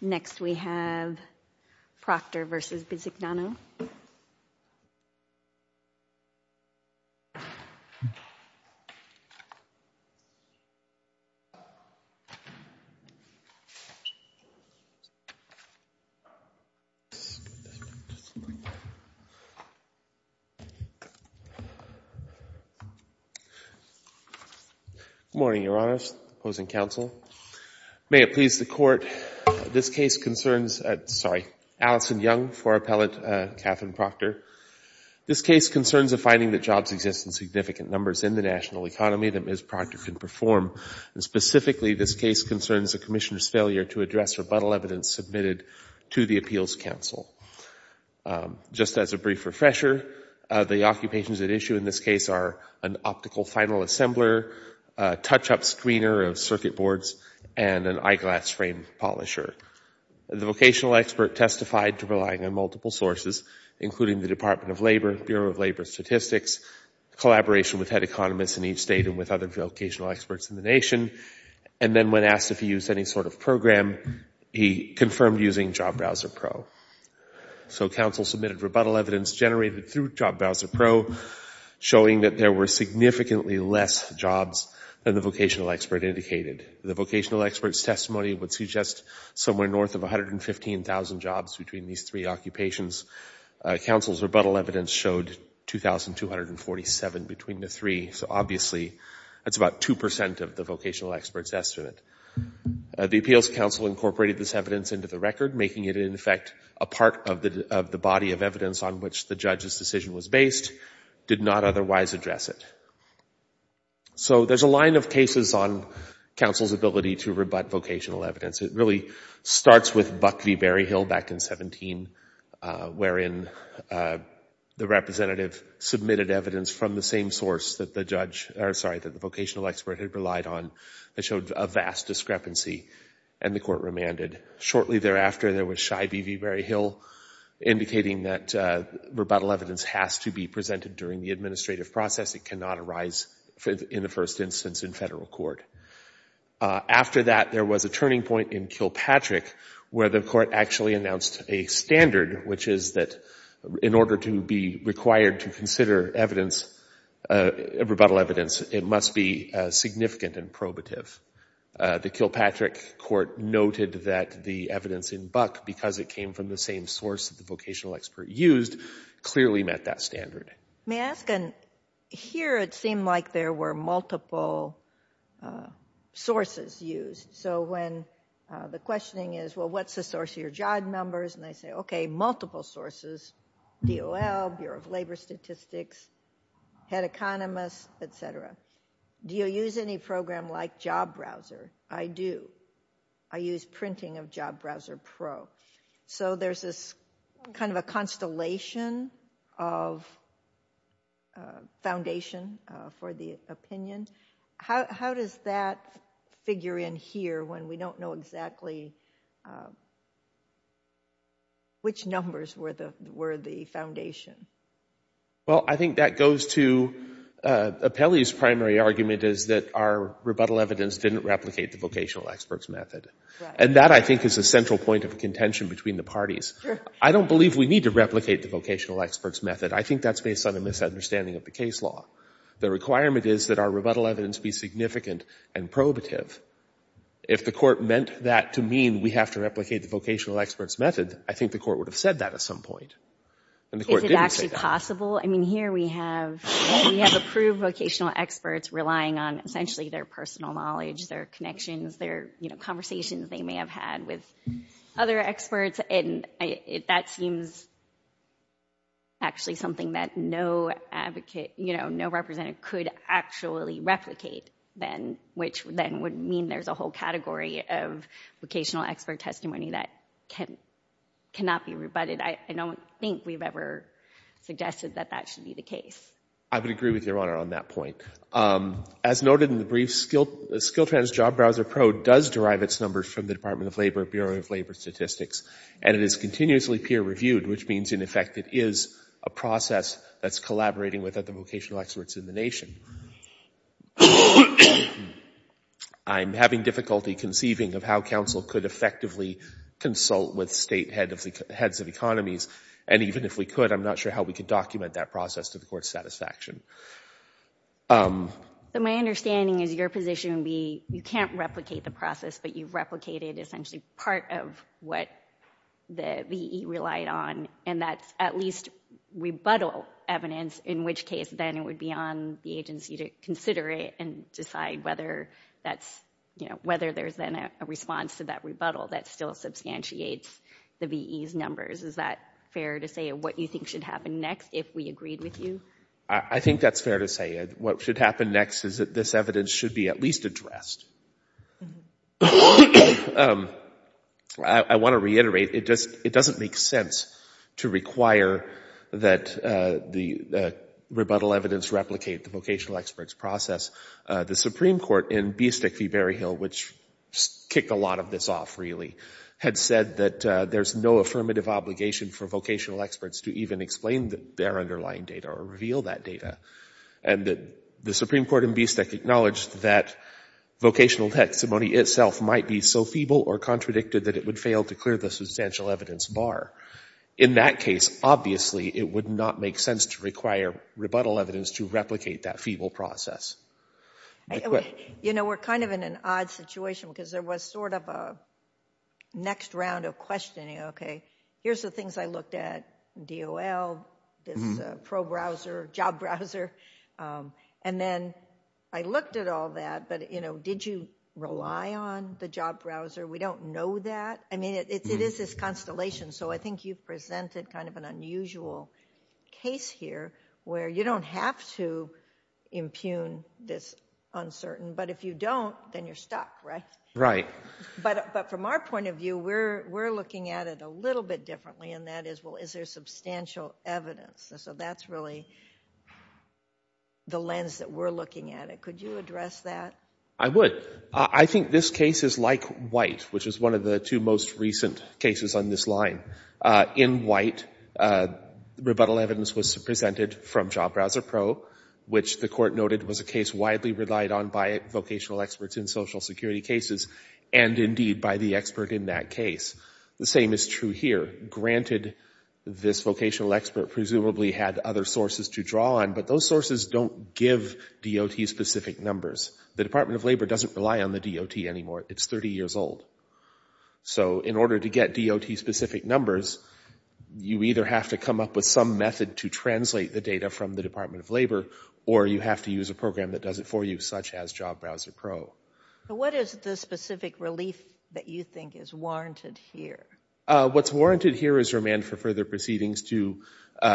Next, we have Proctor v. Bisignano. Good morning, Your Honors, opposing counsel. May it please the Court, this case concerns—sorry—Allison Young for Appellate Katherine Proctor. This case concerns a finding that jobs exist in significant numbers in the national economy that Ms. Proctor can perform. Specifically, this case concerns the Commissioner's failure to address rebuttal evidence submitted to the Appeals Council. Just as a brief refresher, the occupations at issue in this case are an optical final assembler, a touch-up screener of circuit boards, and an eyeglass frame polisher. The vocational expert testified to relying on multiple sources, including the Department of Labor, Bureau of Labor Statistics, collaboration with head economists in each state and with other vocational experts in the nation, and then when asked if he used any sort of program, he confirmed using Job Browser Pro. So counsel submitted rebuttal evidence generated through Job Browser Pro, showing that there were significantly less jobs than the vocational expert indicated. The vocational expert's testimony would suggest somewhere north of 115,000 jobs between these three occupations. Counsel's rebuttal evidence showed 2,247 between the three, so obviously that's about 2 percent of the vocational expert's estimate. The Appeals Council incorporated this evidence into the record, making it, in effect, a part of the body of evidence on which the judge's decision was based, did not otherwise address it. So there's a line of cases on counsel's ability to rebut vocational evidence. It really starts with Buck v. Berryhill back in 17, wherein the representative submitted evidence from the same source that the judge, or sorry, that the vocational expert had relied on that showed a vast discrepancy, and the court remanded. Shortly thereafter, there was Scheibe v. Berryhill indicating that rebuttal evidence has to be presented during the administrative process. It cannot arise in the first instance in federal court. After that, there was a turning point in Kilpatrick, where the court actually announced a standard, which is that in order to be required to consider evidence, rebuttal evidence, it must be significant and probative. The Kilpatrick court noted that the evidence in Buck, because it came from the same source that the vocational expert used, clearly met that standard. May I ask, here it seemed like there were multiple sources used. So when the questioning is, well, what's the source of your job numbers, and I say, okay, multiple sources, DOL, Bureau of Labor Statistics, Head Economist, et cetera. Do you use any program like Job Browser? I do. I use printing of Job Browser Pro. So there's this kind of a constellation of foundation for the opinion. How does that figure in here when we don't know exactly which numbers were the foundation? Well, I think that goes to Apelli's primary argument is that our rebuttal evidence didn't replicate the vocational expert's method. And that, I think, is a central point of contention between the parties. I don't believe we need to replicate the vocational expert's method. I think that's based on a misunderstanding of the case law. The requirement is that our rebuttal evidence be significant and probative. If the court meant that to mean we have to replicate the vocational expert's method, I think the court would have said that at some point, and the court didn't say that. Is it actually possible? I mean, here we have approved vocational experts relying on, essentially, their personal knowledge, their connections, their conversations they may have had with other experts. And that seems actually something that no advocate, you know, no representative could actually replicate, which then would mean there's a whole category of vocational expert testimony that cannot be rebutted. I don't think we've ever suggested that that should be the case. I would agree with Your Honor on that point. As noted in the brief, Skiltrans Job Browser Pro does derive its numbers from the Department of Labor, Bureau of Labor Statistics, and it is continuously peer-reviewed, which means, in effect, it is a process that's collaborating with other vocational experts in the nation. I'm having difficulty conceiving of how counsel could effectively consult with state heads of economies, and even if we could, I'm not sure how we could document that process to support satisfaction. So my understanding is your position would be you can't replicate the process, but you've replicated essentially part of what the VE relied on, and that's at least rebuttal evidence, in which case then it would be on the agency to consider it and decide whether that's, you know, whether there's then a response to that rebuttal that still substantiates the VE's numbers. Is that fair to say what you think should happen next if we agreed with you? I think that's fair to say. What should happen next is that this evidence should be at least addressed. I want to reiterate, it doesn't make sense to require that the rebuttal evidence replicate the vocational expert's process. The Supreme Court in Bistec v. Berryhill, which kicked a lot of this off really, had said that there's no affirmative obligation for vocational experts to even explain their underlying data or reveal that data, and the Supreme Court in Bistec acknowledged that vocational testimony itself might be so feeble or contradicted that it would fail to clear the substantial evidence bar. In that case, obviously it would not make sense to require rebuttal evidence to replicate that feeble process. You know, we're kind of in an odd situation because there was sort of a next round of questioning, okay, here's the things I looked at, DOL, this pro-browser, job browser, and then I looked at all that, but, you know, did you rely on the job browser? We don't know that. I mean, it is this constellation, so I think you've presented kind of an unusual case here where you don't have to impugn this uncertain, but if you don't, then you're stuck, right? Right. But from our point of view, we're looking at it a little bit differently, and that is, well, is there substantial evidence? So that's really the lens that we're looking at. Could you address that? I would. I think this case is like White, which is one of the two most recent cases on this line. In White, rebuttal evidence was presented from Job Browser Pro, which the court noted was a case widely relied on by vocational experts in social security cases, and indeed by the expert in that case. The same is true here. Granted, this vocational expert presumably had other sources to draw on, but those sources don't give DOT-specific numbers. The Department of Labor doesn't rely on the DOT anymore. It's 30 years old. So in order to get DOT-specific numbers, you either have to come up with some method to translate the data from the Department of Labor, or you have to use a program that does it for you, such as Job Browser Pro. What is the specific relief that you think is warranted here? What's warranted here is remand for further proceedings to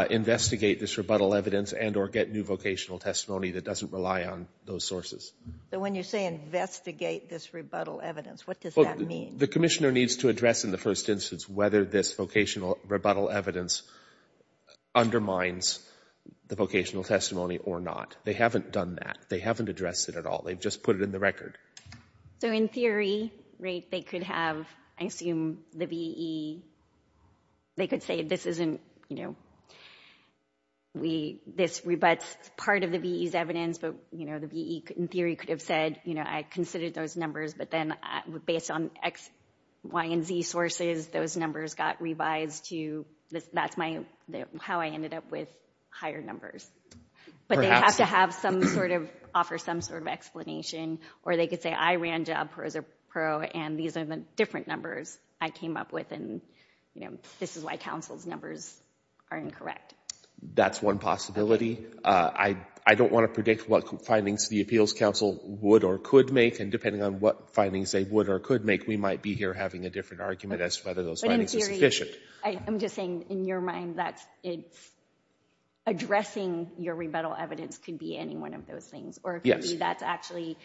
investigate this rebuttal evidence and or get new vocational testimony that doesn't rely on those sources. So when you say investigate this rebuttal evidence, what does that mean? The commissioner needs to address in the first instance whether this vocational rebuttal evidence undermines the vocational testimony or not. They haven't done that. They haven't addressed it at all. They've just put it in the record. So in theory, right, they could have, I assume the VE, they could say this isn't, you know, this rebutts part of the VE's evidence, but, you know, the VE in theory could have said, you know, I considered those numbers, but then based on X, Y, and Z sources, those numbers got revised to, that's my, how I ended up with higher numbers. But they have to have some sort of, offer some sort of explanation. Or they could say I ran Job Browser Pro, and these are the different numbers I came up with, and, you know, this is why counsel's numbers are incorrect. That's one possibility. I don't want to predict what findings the appeals counsel would or could make, and depending on what findings they would or could make, we might be here having a different argument as to whether those findings are sufficient. But in theory, I'm just saying in your mind that it's addressing your rebuttal evidence could be any one of those things. Yes. Or it could be that's actually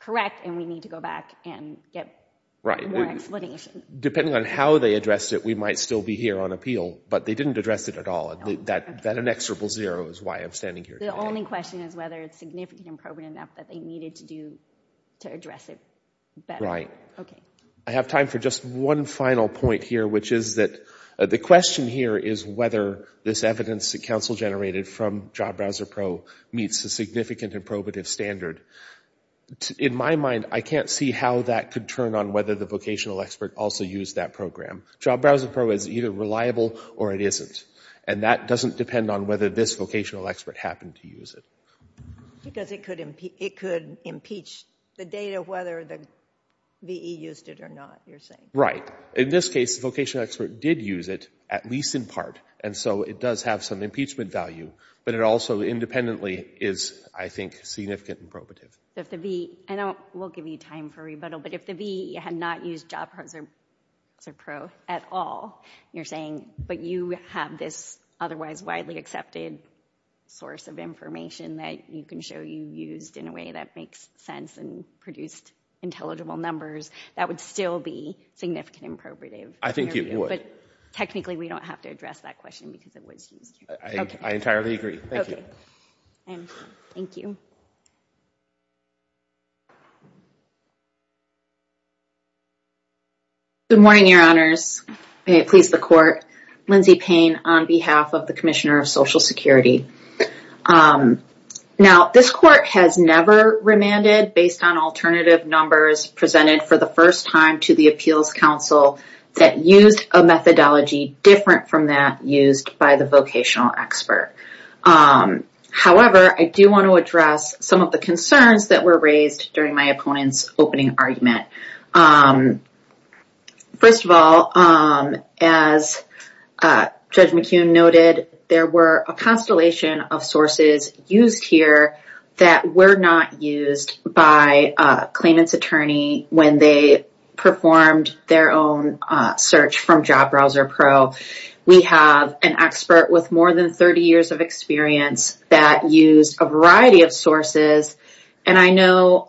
correct, and we need to go back and get more explanation. Depending on how they addressed it, we might still be here on appeal, but they didn't address it at all. And that inexorable zero is why I'm standing here today. The only question is whether it's significant and probative enough that they needed to do to address it better. Okay. I have time for just one final point here, which is that the question here is whether this evidence that counsel generated from Job Browser Pro meets the significant and probative standard. In my mind, I can't see how that could turn on whether the vocational expert also used that program. Job Browser Pro is either reliable or it isn't, and that doesn't depend on whether this vocational expert happened to use it. Because it could impeach the data whether the VE used it or not, you're saying. Right. In this case, the vocational expert did use it, at least in part, and so it does have some impeachment value, but it also independently is, I think, significant and probative. I know we'll give you time for rebuttal, but if the VE had not used Job Browser Pro at all, you're saying, but you have this otherwise widely accepted source of information that you can show you used in a way that makes sense and produced intelligible numbers, that would still be significant and probative. I think it would. But technically, we don't have to address that question because it was used. I entirely agree. Thank you. I am done. Good morning, Your Honors. May it please the Court. Lindsey Payne on behalf of the Commissioner of Social Security. Now, this Court has never remanded based on alternative numbers presented for the first time to the Appeals Council that used a methodology different from that used by the vocational expert. However, I do want to address some of the concerns that were raised during my opponent's opening argument. First of all, as Judge McCune noted, there were a constellation of sources used here that were not used by a claimant's attorney when they performed their own search from Job Browser Pro. We have an expert with more than 30 years of experience that used a variety of sources. And I know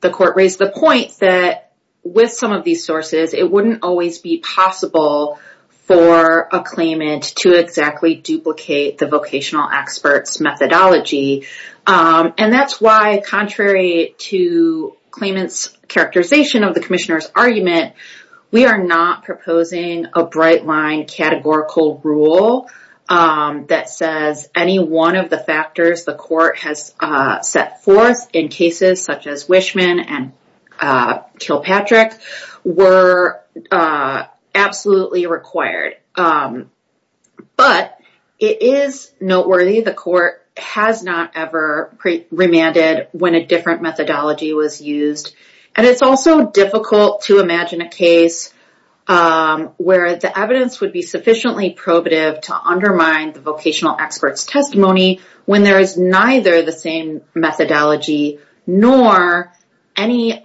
the Court raised the point that with some of these sources, it wouldn't always be possible for a claimant to exactly duplicate the vocational expert's methodology. And that's why, contrary to claimant's characterization of the Commissioner's argument, we are not proposing a bright-line categorical rule that says any one of the factors the Court has set forth in cases such as Wishman and Kilpatrick were absolutely required. But it is noteworthy the Court has not ever remanded when a different methodology was used. And it's also difficult to imagine a case where the evidence would be sufficiently probative to undermine the vocational expert's testimony when there is neither the same methodology nor any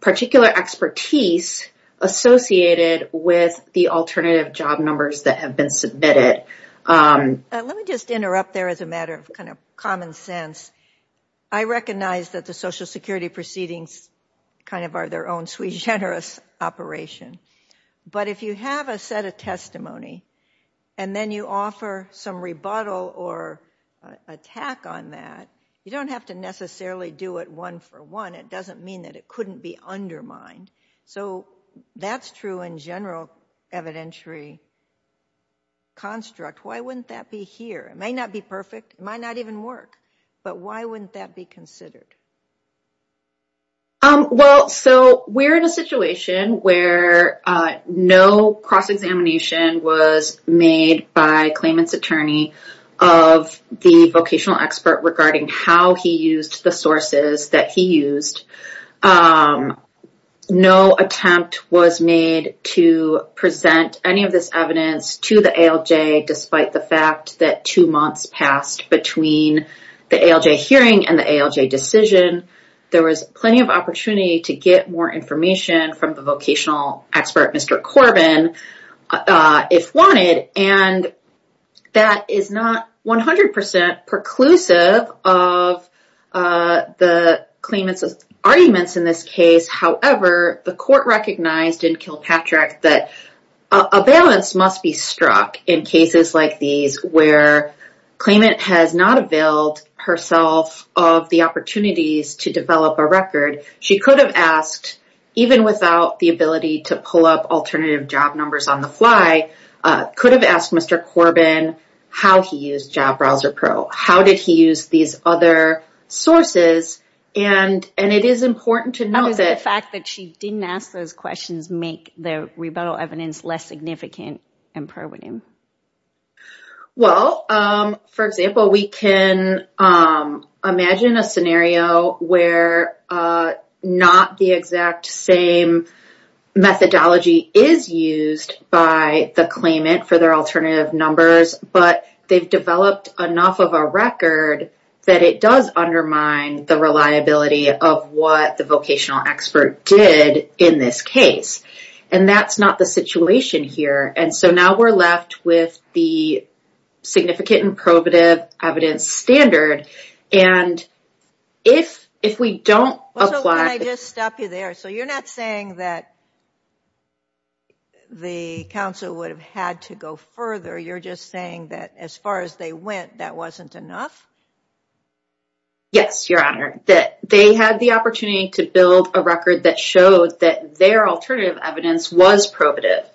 particular expertise associated with the alternative job numbers that have been submitted. Let me just interrupt there as a matter of common sense. I recognize that the Social Security proceedings are their own sui generis operation. But if you have a set of testimony and then you offer some rebuttal or attack on that, you don't have to necessarily do it one for one. It doesn't mean that it couldn't be undermined. So that's true in general evidentiary construct. Why wouldn't that be here? It may not be perfect. It might not even work. But why wouldn't that be considered? Well, so we're in a situation where no cross-examination was made by Clayman's attorney of the vocational expert regarding how he used the sources that he used. No attempt was made to present any of this evidence to the ALJ despite the fact that two months passed between the ALJ hearing and the ALJ decision. There was plenty of opportunity to get more information from the vocational expert, Mr. Corbin, if wanted. And that is not 100% preclusive of the Clayman's arguments in this case. However, the court recognized in Kilpatrick that a balance must be struck in cases like these where Clayman has not availed herself of the opportunities to develop a record. She could have asked, even without the ability to pull up alternative job numbers on the fly, could have asked Mr. Corbin how he used Job Browser Pro. How did he use these other sources? And it is important to note that the fact that she didn't ask those questions make the rebuttal evidence less significant and probative. Well, for example, we can imagine a scenario where not the exact same methodology is used by the Clayman for their alternative numbers, but they've developed enough of a record that it does undermine the reliability of what the vocational expert did in this case. And that's not the situation here. And so now we're left with the significant and probative evidence standard. And if we don't apply... So, can I just stop you there? So you're not saying that the counsel would have had to go further. You're just saying that as far as they went, that wasn't enough? Yes, Your Honor. That they had the opportunity to build a record that showed that their alternative evidence was probative.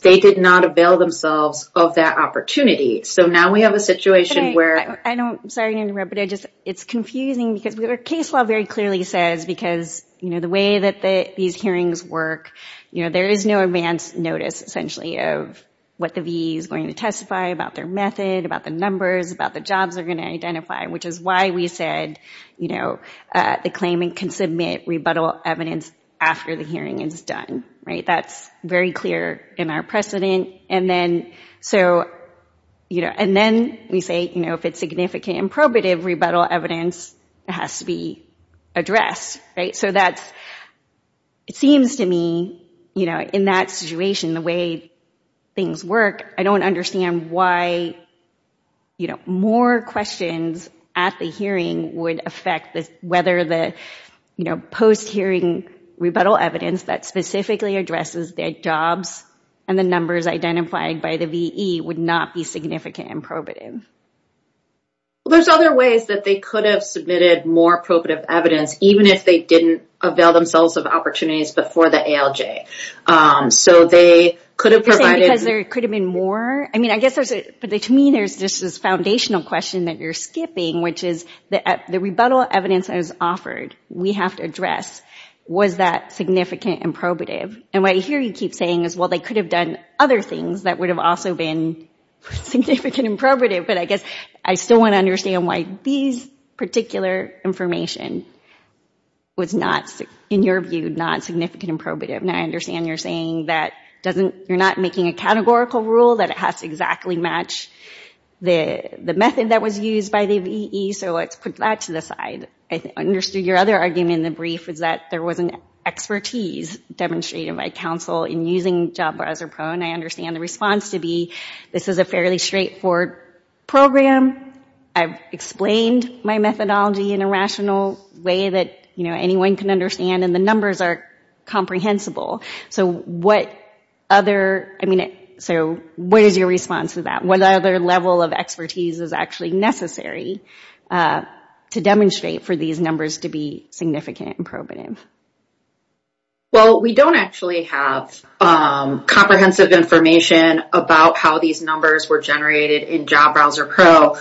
They did not avail themselves of that opportunity. So now we have a situation where... I'm sorry to interrupt, but it's confusing because the case law very clearly says, because the way that these hearings work, there is no advance notice, essentially, of what the V is going to testify about their method, about the numbers, about the jobs they're going to identify, which is why we said the claimant can submit rebuttal evidence after the hearing is done. That's very clear in our precedent. And then we say, if it's significant and probative, rebuttal evidence has to be addressed. So it seems to me, in that situation, the way things work, I don't understand why more questions at the hearing would affect whether the post-hearing rebuttal evidence that specifically addresses their jobs and the numbers identified by the VE would not be significant and probative. There's other ways that they could have submitted more probative evidence, even if they didn't avail themselves of opportunities before the ALJ. So they could have provided... You're saying because there could have been more? To me, there's this foundational question that you're skipping, which is, the rebuttal evidence that is offered, we have to address. Was that significant and probative? And what I hear you keep saying is, well, they could have done other things that would have also been significant and probative, but I guess I still want to understand why these particular information was not, in your view, not significant and probative. And I understand you're saying that you're not making a categorical rule, that it has to exactly match the method that was used by the VE, so let's put that to the side. I understood your other argument in the brief was that there wasn't expertise demonstrated by counsel in using JobBrowserPro, and I understand the response to be, this is a fairly straightforward program, I've explained my methodology in a rational way that anyone can understand, and the numbers are comprehensible. So what is your response to that? What other level of expertise is actually necessary to demonstrate for these numbers to be significant and probative? Well, we don't actually have comprehensive information about how these numbers were generated in JobBrowserPro. So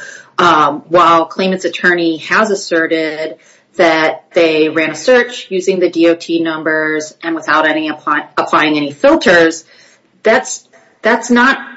while Clayman's attorney has asserted that they ran a search using the DOT numbers and without applying any filters, that's not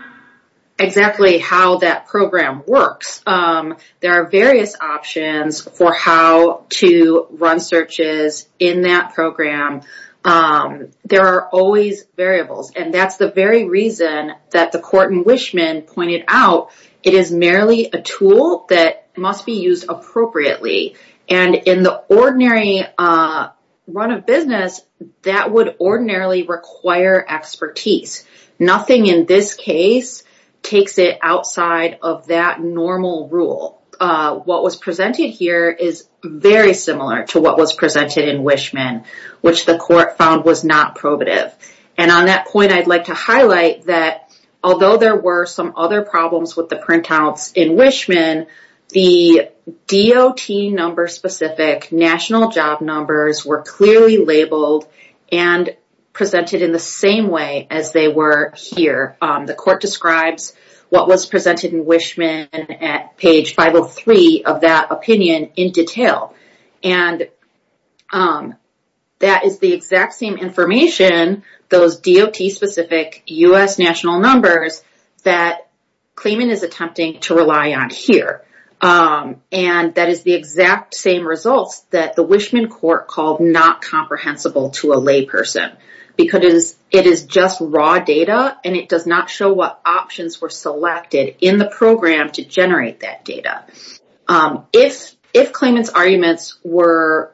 exactly how that program works. There are various options for how to run searches in that program. There are always variables, and that's the very reason that the court in Wishman pointed out, it is merely a tool that must be used appropriately. And in the ordinary run of business, that would ordinarily require expertise. Nothing in this case takes it outside of that normal rule. What was presented here is very similar to what was presented in Wishman, which the court found was not probative. And on that point, I'd like to highlight that although there were some other problems with the printouts in Wishman, the DOT number specific national job numbers were clearly labeled and presented in the same way as they were here. The court describes what was presented in Wishman at page 503 of that opinion in detail. And that is the exact same information, those DOT specific U.S. national numbers that Clayman is attempting to rely on here. And that is the exact same results that the Wishman court called not comprehensible to a layperson because it is just raw data and it does not show what options were selected in the program to generate that data. If Clayman's arguments were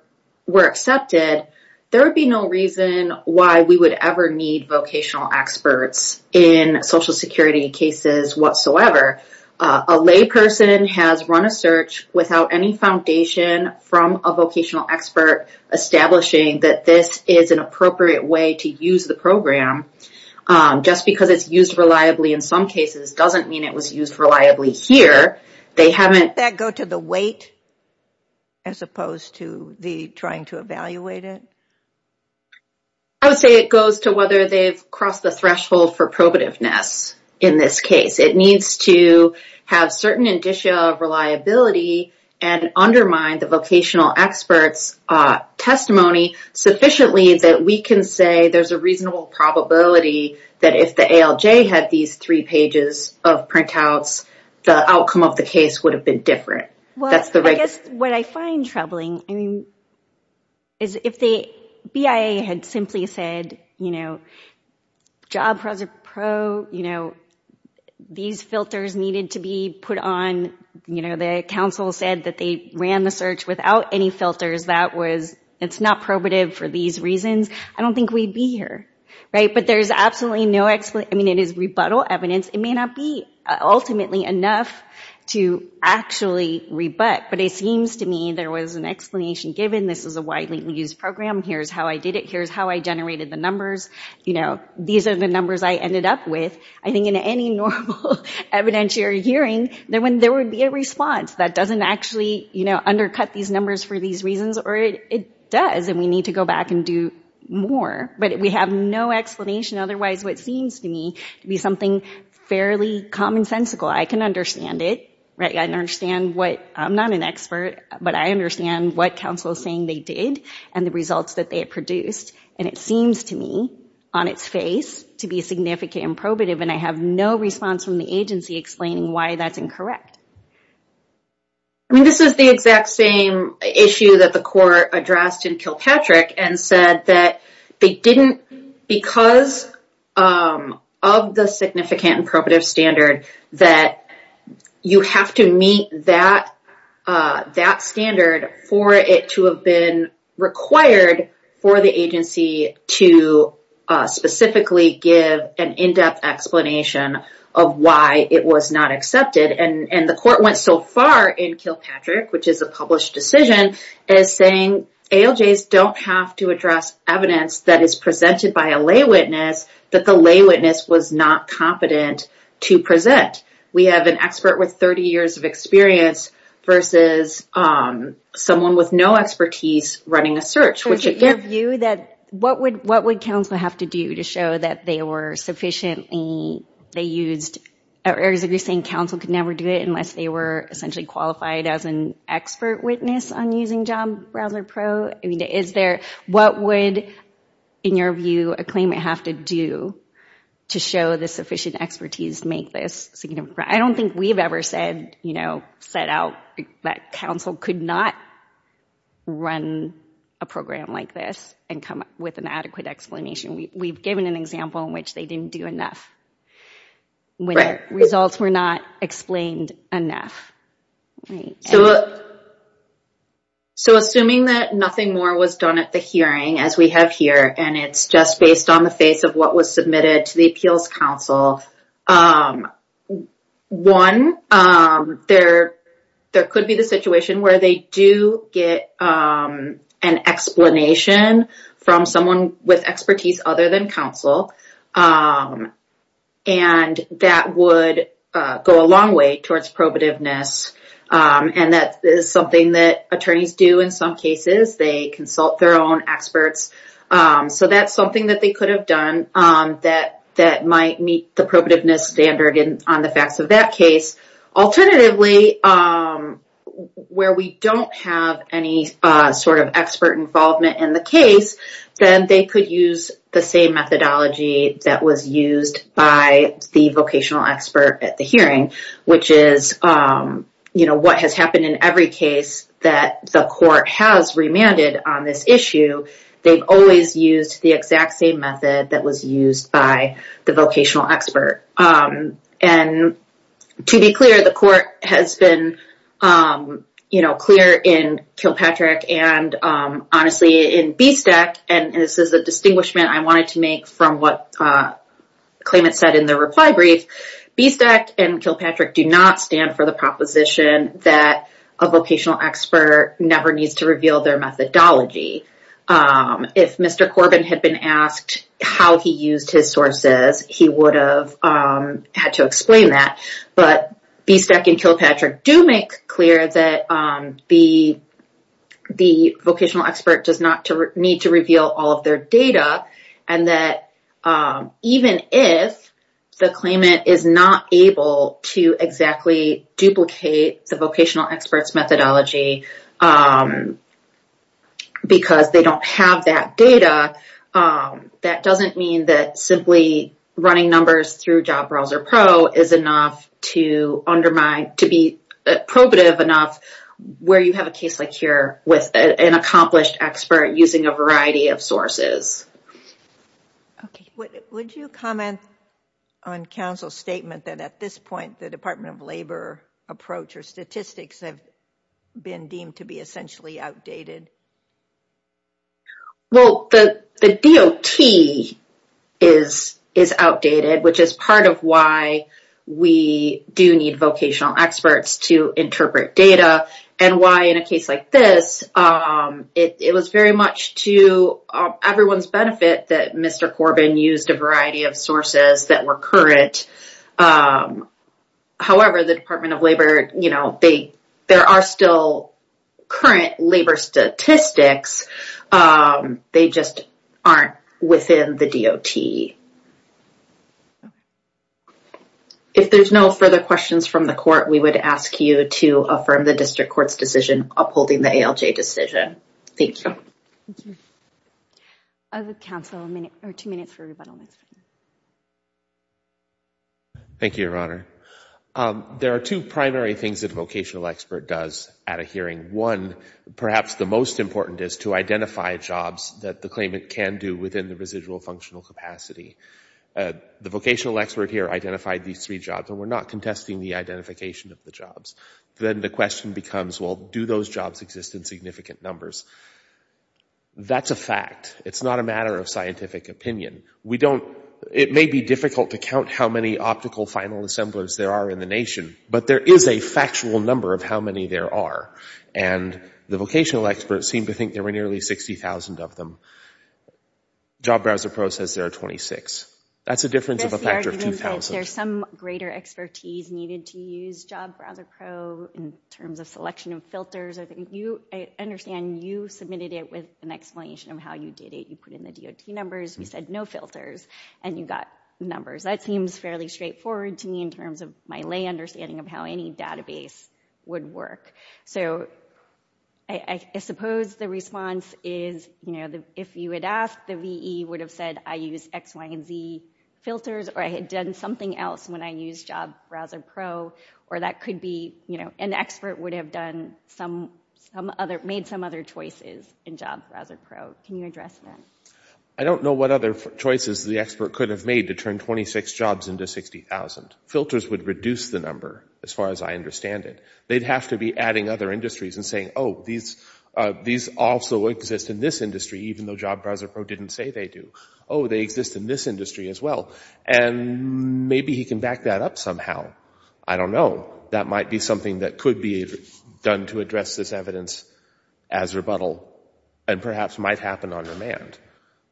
accepted, there would be no reason why we would ever need vocational experts in Social Security cases whatsoever. A layperson has run a search without any foundation from a vocational expert establishing that this is an appropriate way to use the program. Just because it's used reliably in some cases doesn't mean it was used reliably here. Does that go to the weight as opposed to the trying to evaluate it? I would say it goes to whether they've crossed the threshold for probativeness in this case. It needs to have certain indicia of reliability and undermine the vocational expert's testimony sufficiently that we can say there's a reasonable probability that if the ALJ had these three pages of printouts, the outcome of the case would have been different. I guess what I find troubling is if the BIA had simply said, you know, job pros are pro, you know, these filters needed to be put on, you know, the counsel said that they ran the search without any filters, that was, it's not probative for these reasons, I don't think we'd be here, right? But there's absolutely no explanation, I mean, it is rebuttal evidence. It may not be ultimately enough to actually rebut, but it seems to me there was an explanation given, this is a widely used program, here's how I did it, here's how I generated the numbers, you know, these are the numbers I ended up with. I think in any normal evidentiary hearing, there would be a response that doesn't actually, you know, undercut these numbers for these reasons or it does and we need to go back and do more. But we have no explanation, otherwise what seems to me to be something fairly commonsensical. I can understand it, right? I understand what, I'm not an expert, but I understand what counsel is saying they did and the results that they produced and it seems to me on its face to be significant and probative and I have no response from the agency explaining why that's incorrect. I mean, this is the exact same issue that the court addressed in Kilpatrick and said that they didn't, because of the significant and probative standard that you have to meet that standard for it to have been required for the agency to specifically give an in-depth explanation of why it was not accepted and the court went so far in Kilpatrick, which is a published decision, is saying ALJs don't have to address evidence that is presented by a lay witness that the lay witness was not competent to present. We have an expert with 30 years of experience versus someone with no expertise running a search, which again... So is it your view that what would counsel have to do to show that they were sufficiently, they used, or is it you're saying counsel could never do it unless they were essentially qualified as an expert witness on using Job Browser Pro? I mean, is there... What would, in your view, a claimant have to do to show the sufficient expertise to make this significant? I don't think we've ever said, you know, set out that counsel could not run a program like this and come up with an adequate explanation. We've given an example in which they didn't do enough when their results were not explained enough. So assuming that nothing more was done at the hearing as we have here, and it's just based on the face of what was submitted to the appeals counsel, one, there could be the situation where they do get an explanation from someone with expertise other than counsel, and that would go a long way towards probativeness, and that is something that attorneys do in some cases. They consult their own experts, so that's something that they could have done that might meet the probativeness standard on the facts of that case. Alternatively, where we don't have any sort of expert involvement in the case, then they could use the same methodology that was used by the vocational expert at the hearing, which is, you know, what has happened in every case that the court has remanded on this issue. They've always used the exact same method that was used by the vocational expert. And to be clear, the court has been, you know, clear in Kilpatrick and honestly in BSTEC, and this is a distinguishment I wanted to make from what Klayman said in the reply brief, BSTEC and Kilpatrick do not stand for the proposition that a vocational expert never needs to reveal their methodology. If Mr. Corbin had been asked how he used his sources, he would have had to explain that, but BSTEC and Kilpatrick do make clear that the vocational expert does not need to reveal all of their data and that even if the Klayman is not able to exactly duplicate the vocational expert's methodology because they don't have that data, that doesn't mean that simply running numbers through Job Browser Pro is enough to undermine, to be probative enough where you have a case like here with an accomplished expert using a variety of sources. Okay, would you comment on counsel's statement that at this point the Department of Labor approach or statistics have been deemed to be essentially outdated? Well, the DOT is outdated, which is part of why we do need vocational experts to interpret data and why in a case like this, it was very much to everyone's benefit that Mr. Corbin used a variety of sources that were current. However, the Department of Labor, you know, there are still current labor statistics, they just aren't within the DOT. If there's no further questions from the court, we would ask you to affirm the district court's decision upholding the ALJ decision. Thank you. Thank you. I'll give counsel two minutes for rebuttal. Thank you, Your Honor. There are two primary things that a vocational expert does at a hearing. One, perhaps the most important is to identify jobs that the claimant can do within the residual functional capacity. The vocational expert here identified these three jobs, and we're not contesting the identification of the jobs. Then the question becomes, well, do those jobs exist in significant numbers? That's a fact. It's not a matter of scientific opinion. It may be difficult to count how many optical final assemblers there are in the nation, but there is a factual number of how many there are, and the vocational experts seem to think there were nearly 60,000 of them. JobBrowserPro says there are 26. That's a difference of a factor of 2,000. There's some greater expertise needed to use JobBrowserPro in terms of selection of filters. I understand you submitted it with an explanation of how you did it. You put in the DOT numbers. You said no filters, and you got numbers. That seems fairly straightforward to me in terms of my lay understanding of how any database would work. I suppose the response is, if you had asked, the VE would have said, I use X, Y, and Z filters, or I had done something else when I used JobBrowserPro, or that could be an expert would have made some other choices in JobBrowserPro. Can you address that? I don't know what other choices the expert could have made to turn 26 jobs into 60,000. Filters would reduce the number, as far as I understand it. They'd have to be adding other industries and saying, oh, these also exist in this industry, even though JobBrowserPro didn't say they do. Oh, they exist in this industry as well. And maybe he can back that up somehow. I don't know. That might be something that could be done to address this evidence as rebuttal, and perhaps might happen on demand.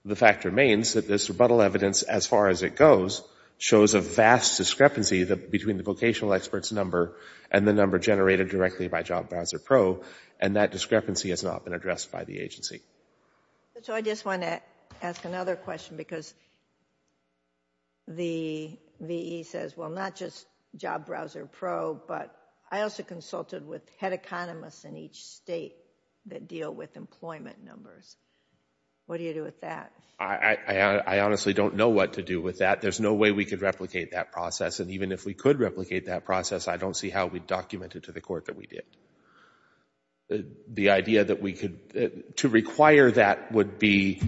The fact remains that this rebuttal evidence, as far as it goes, shows a vast discrepancy between the vocational expert's number and the number generated directly by JobBrowserPro, and that discrepancy has not been addressed by the agency. So I just want to ask another question, because the VE says, well, not just JobBrowserPro, but I also consulted with head economists in each state that deal with employment numbers. What do you do with that? I honestly don't know what to do with that. There's no way we could replicate that process, and even if we could replicate that process, I don't see how we'd document it to the court that we did. The idea that we could, to require that would be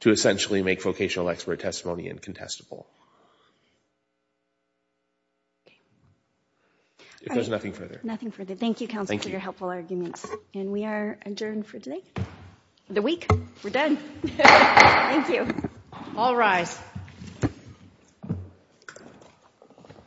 to essentially make vocational expert testimony incontestable. If there's nothing further. Nothing further. Thank you, counsel, for your helpful arguments. And we are adjourned for today. The week. We're done. Thank you. All rise.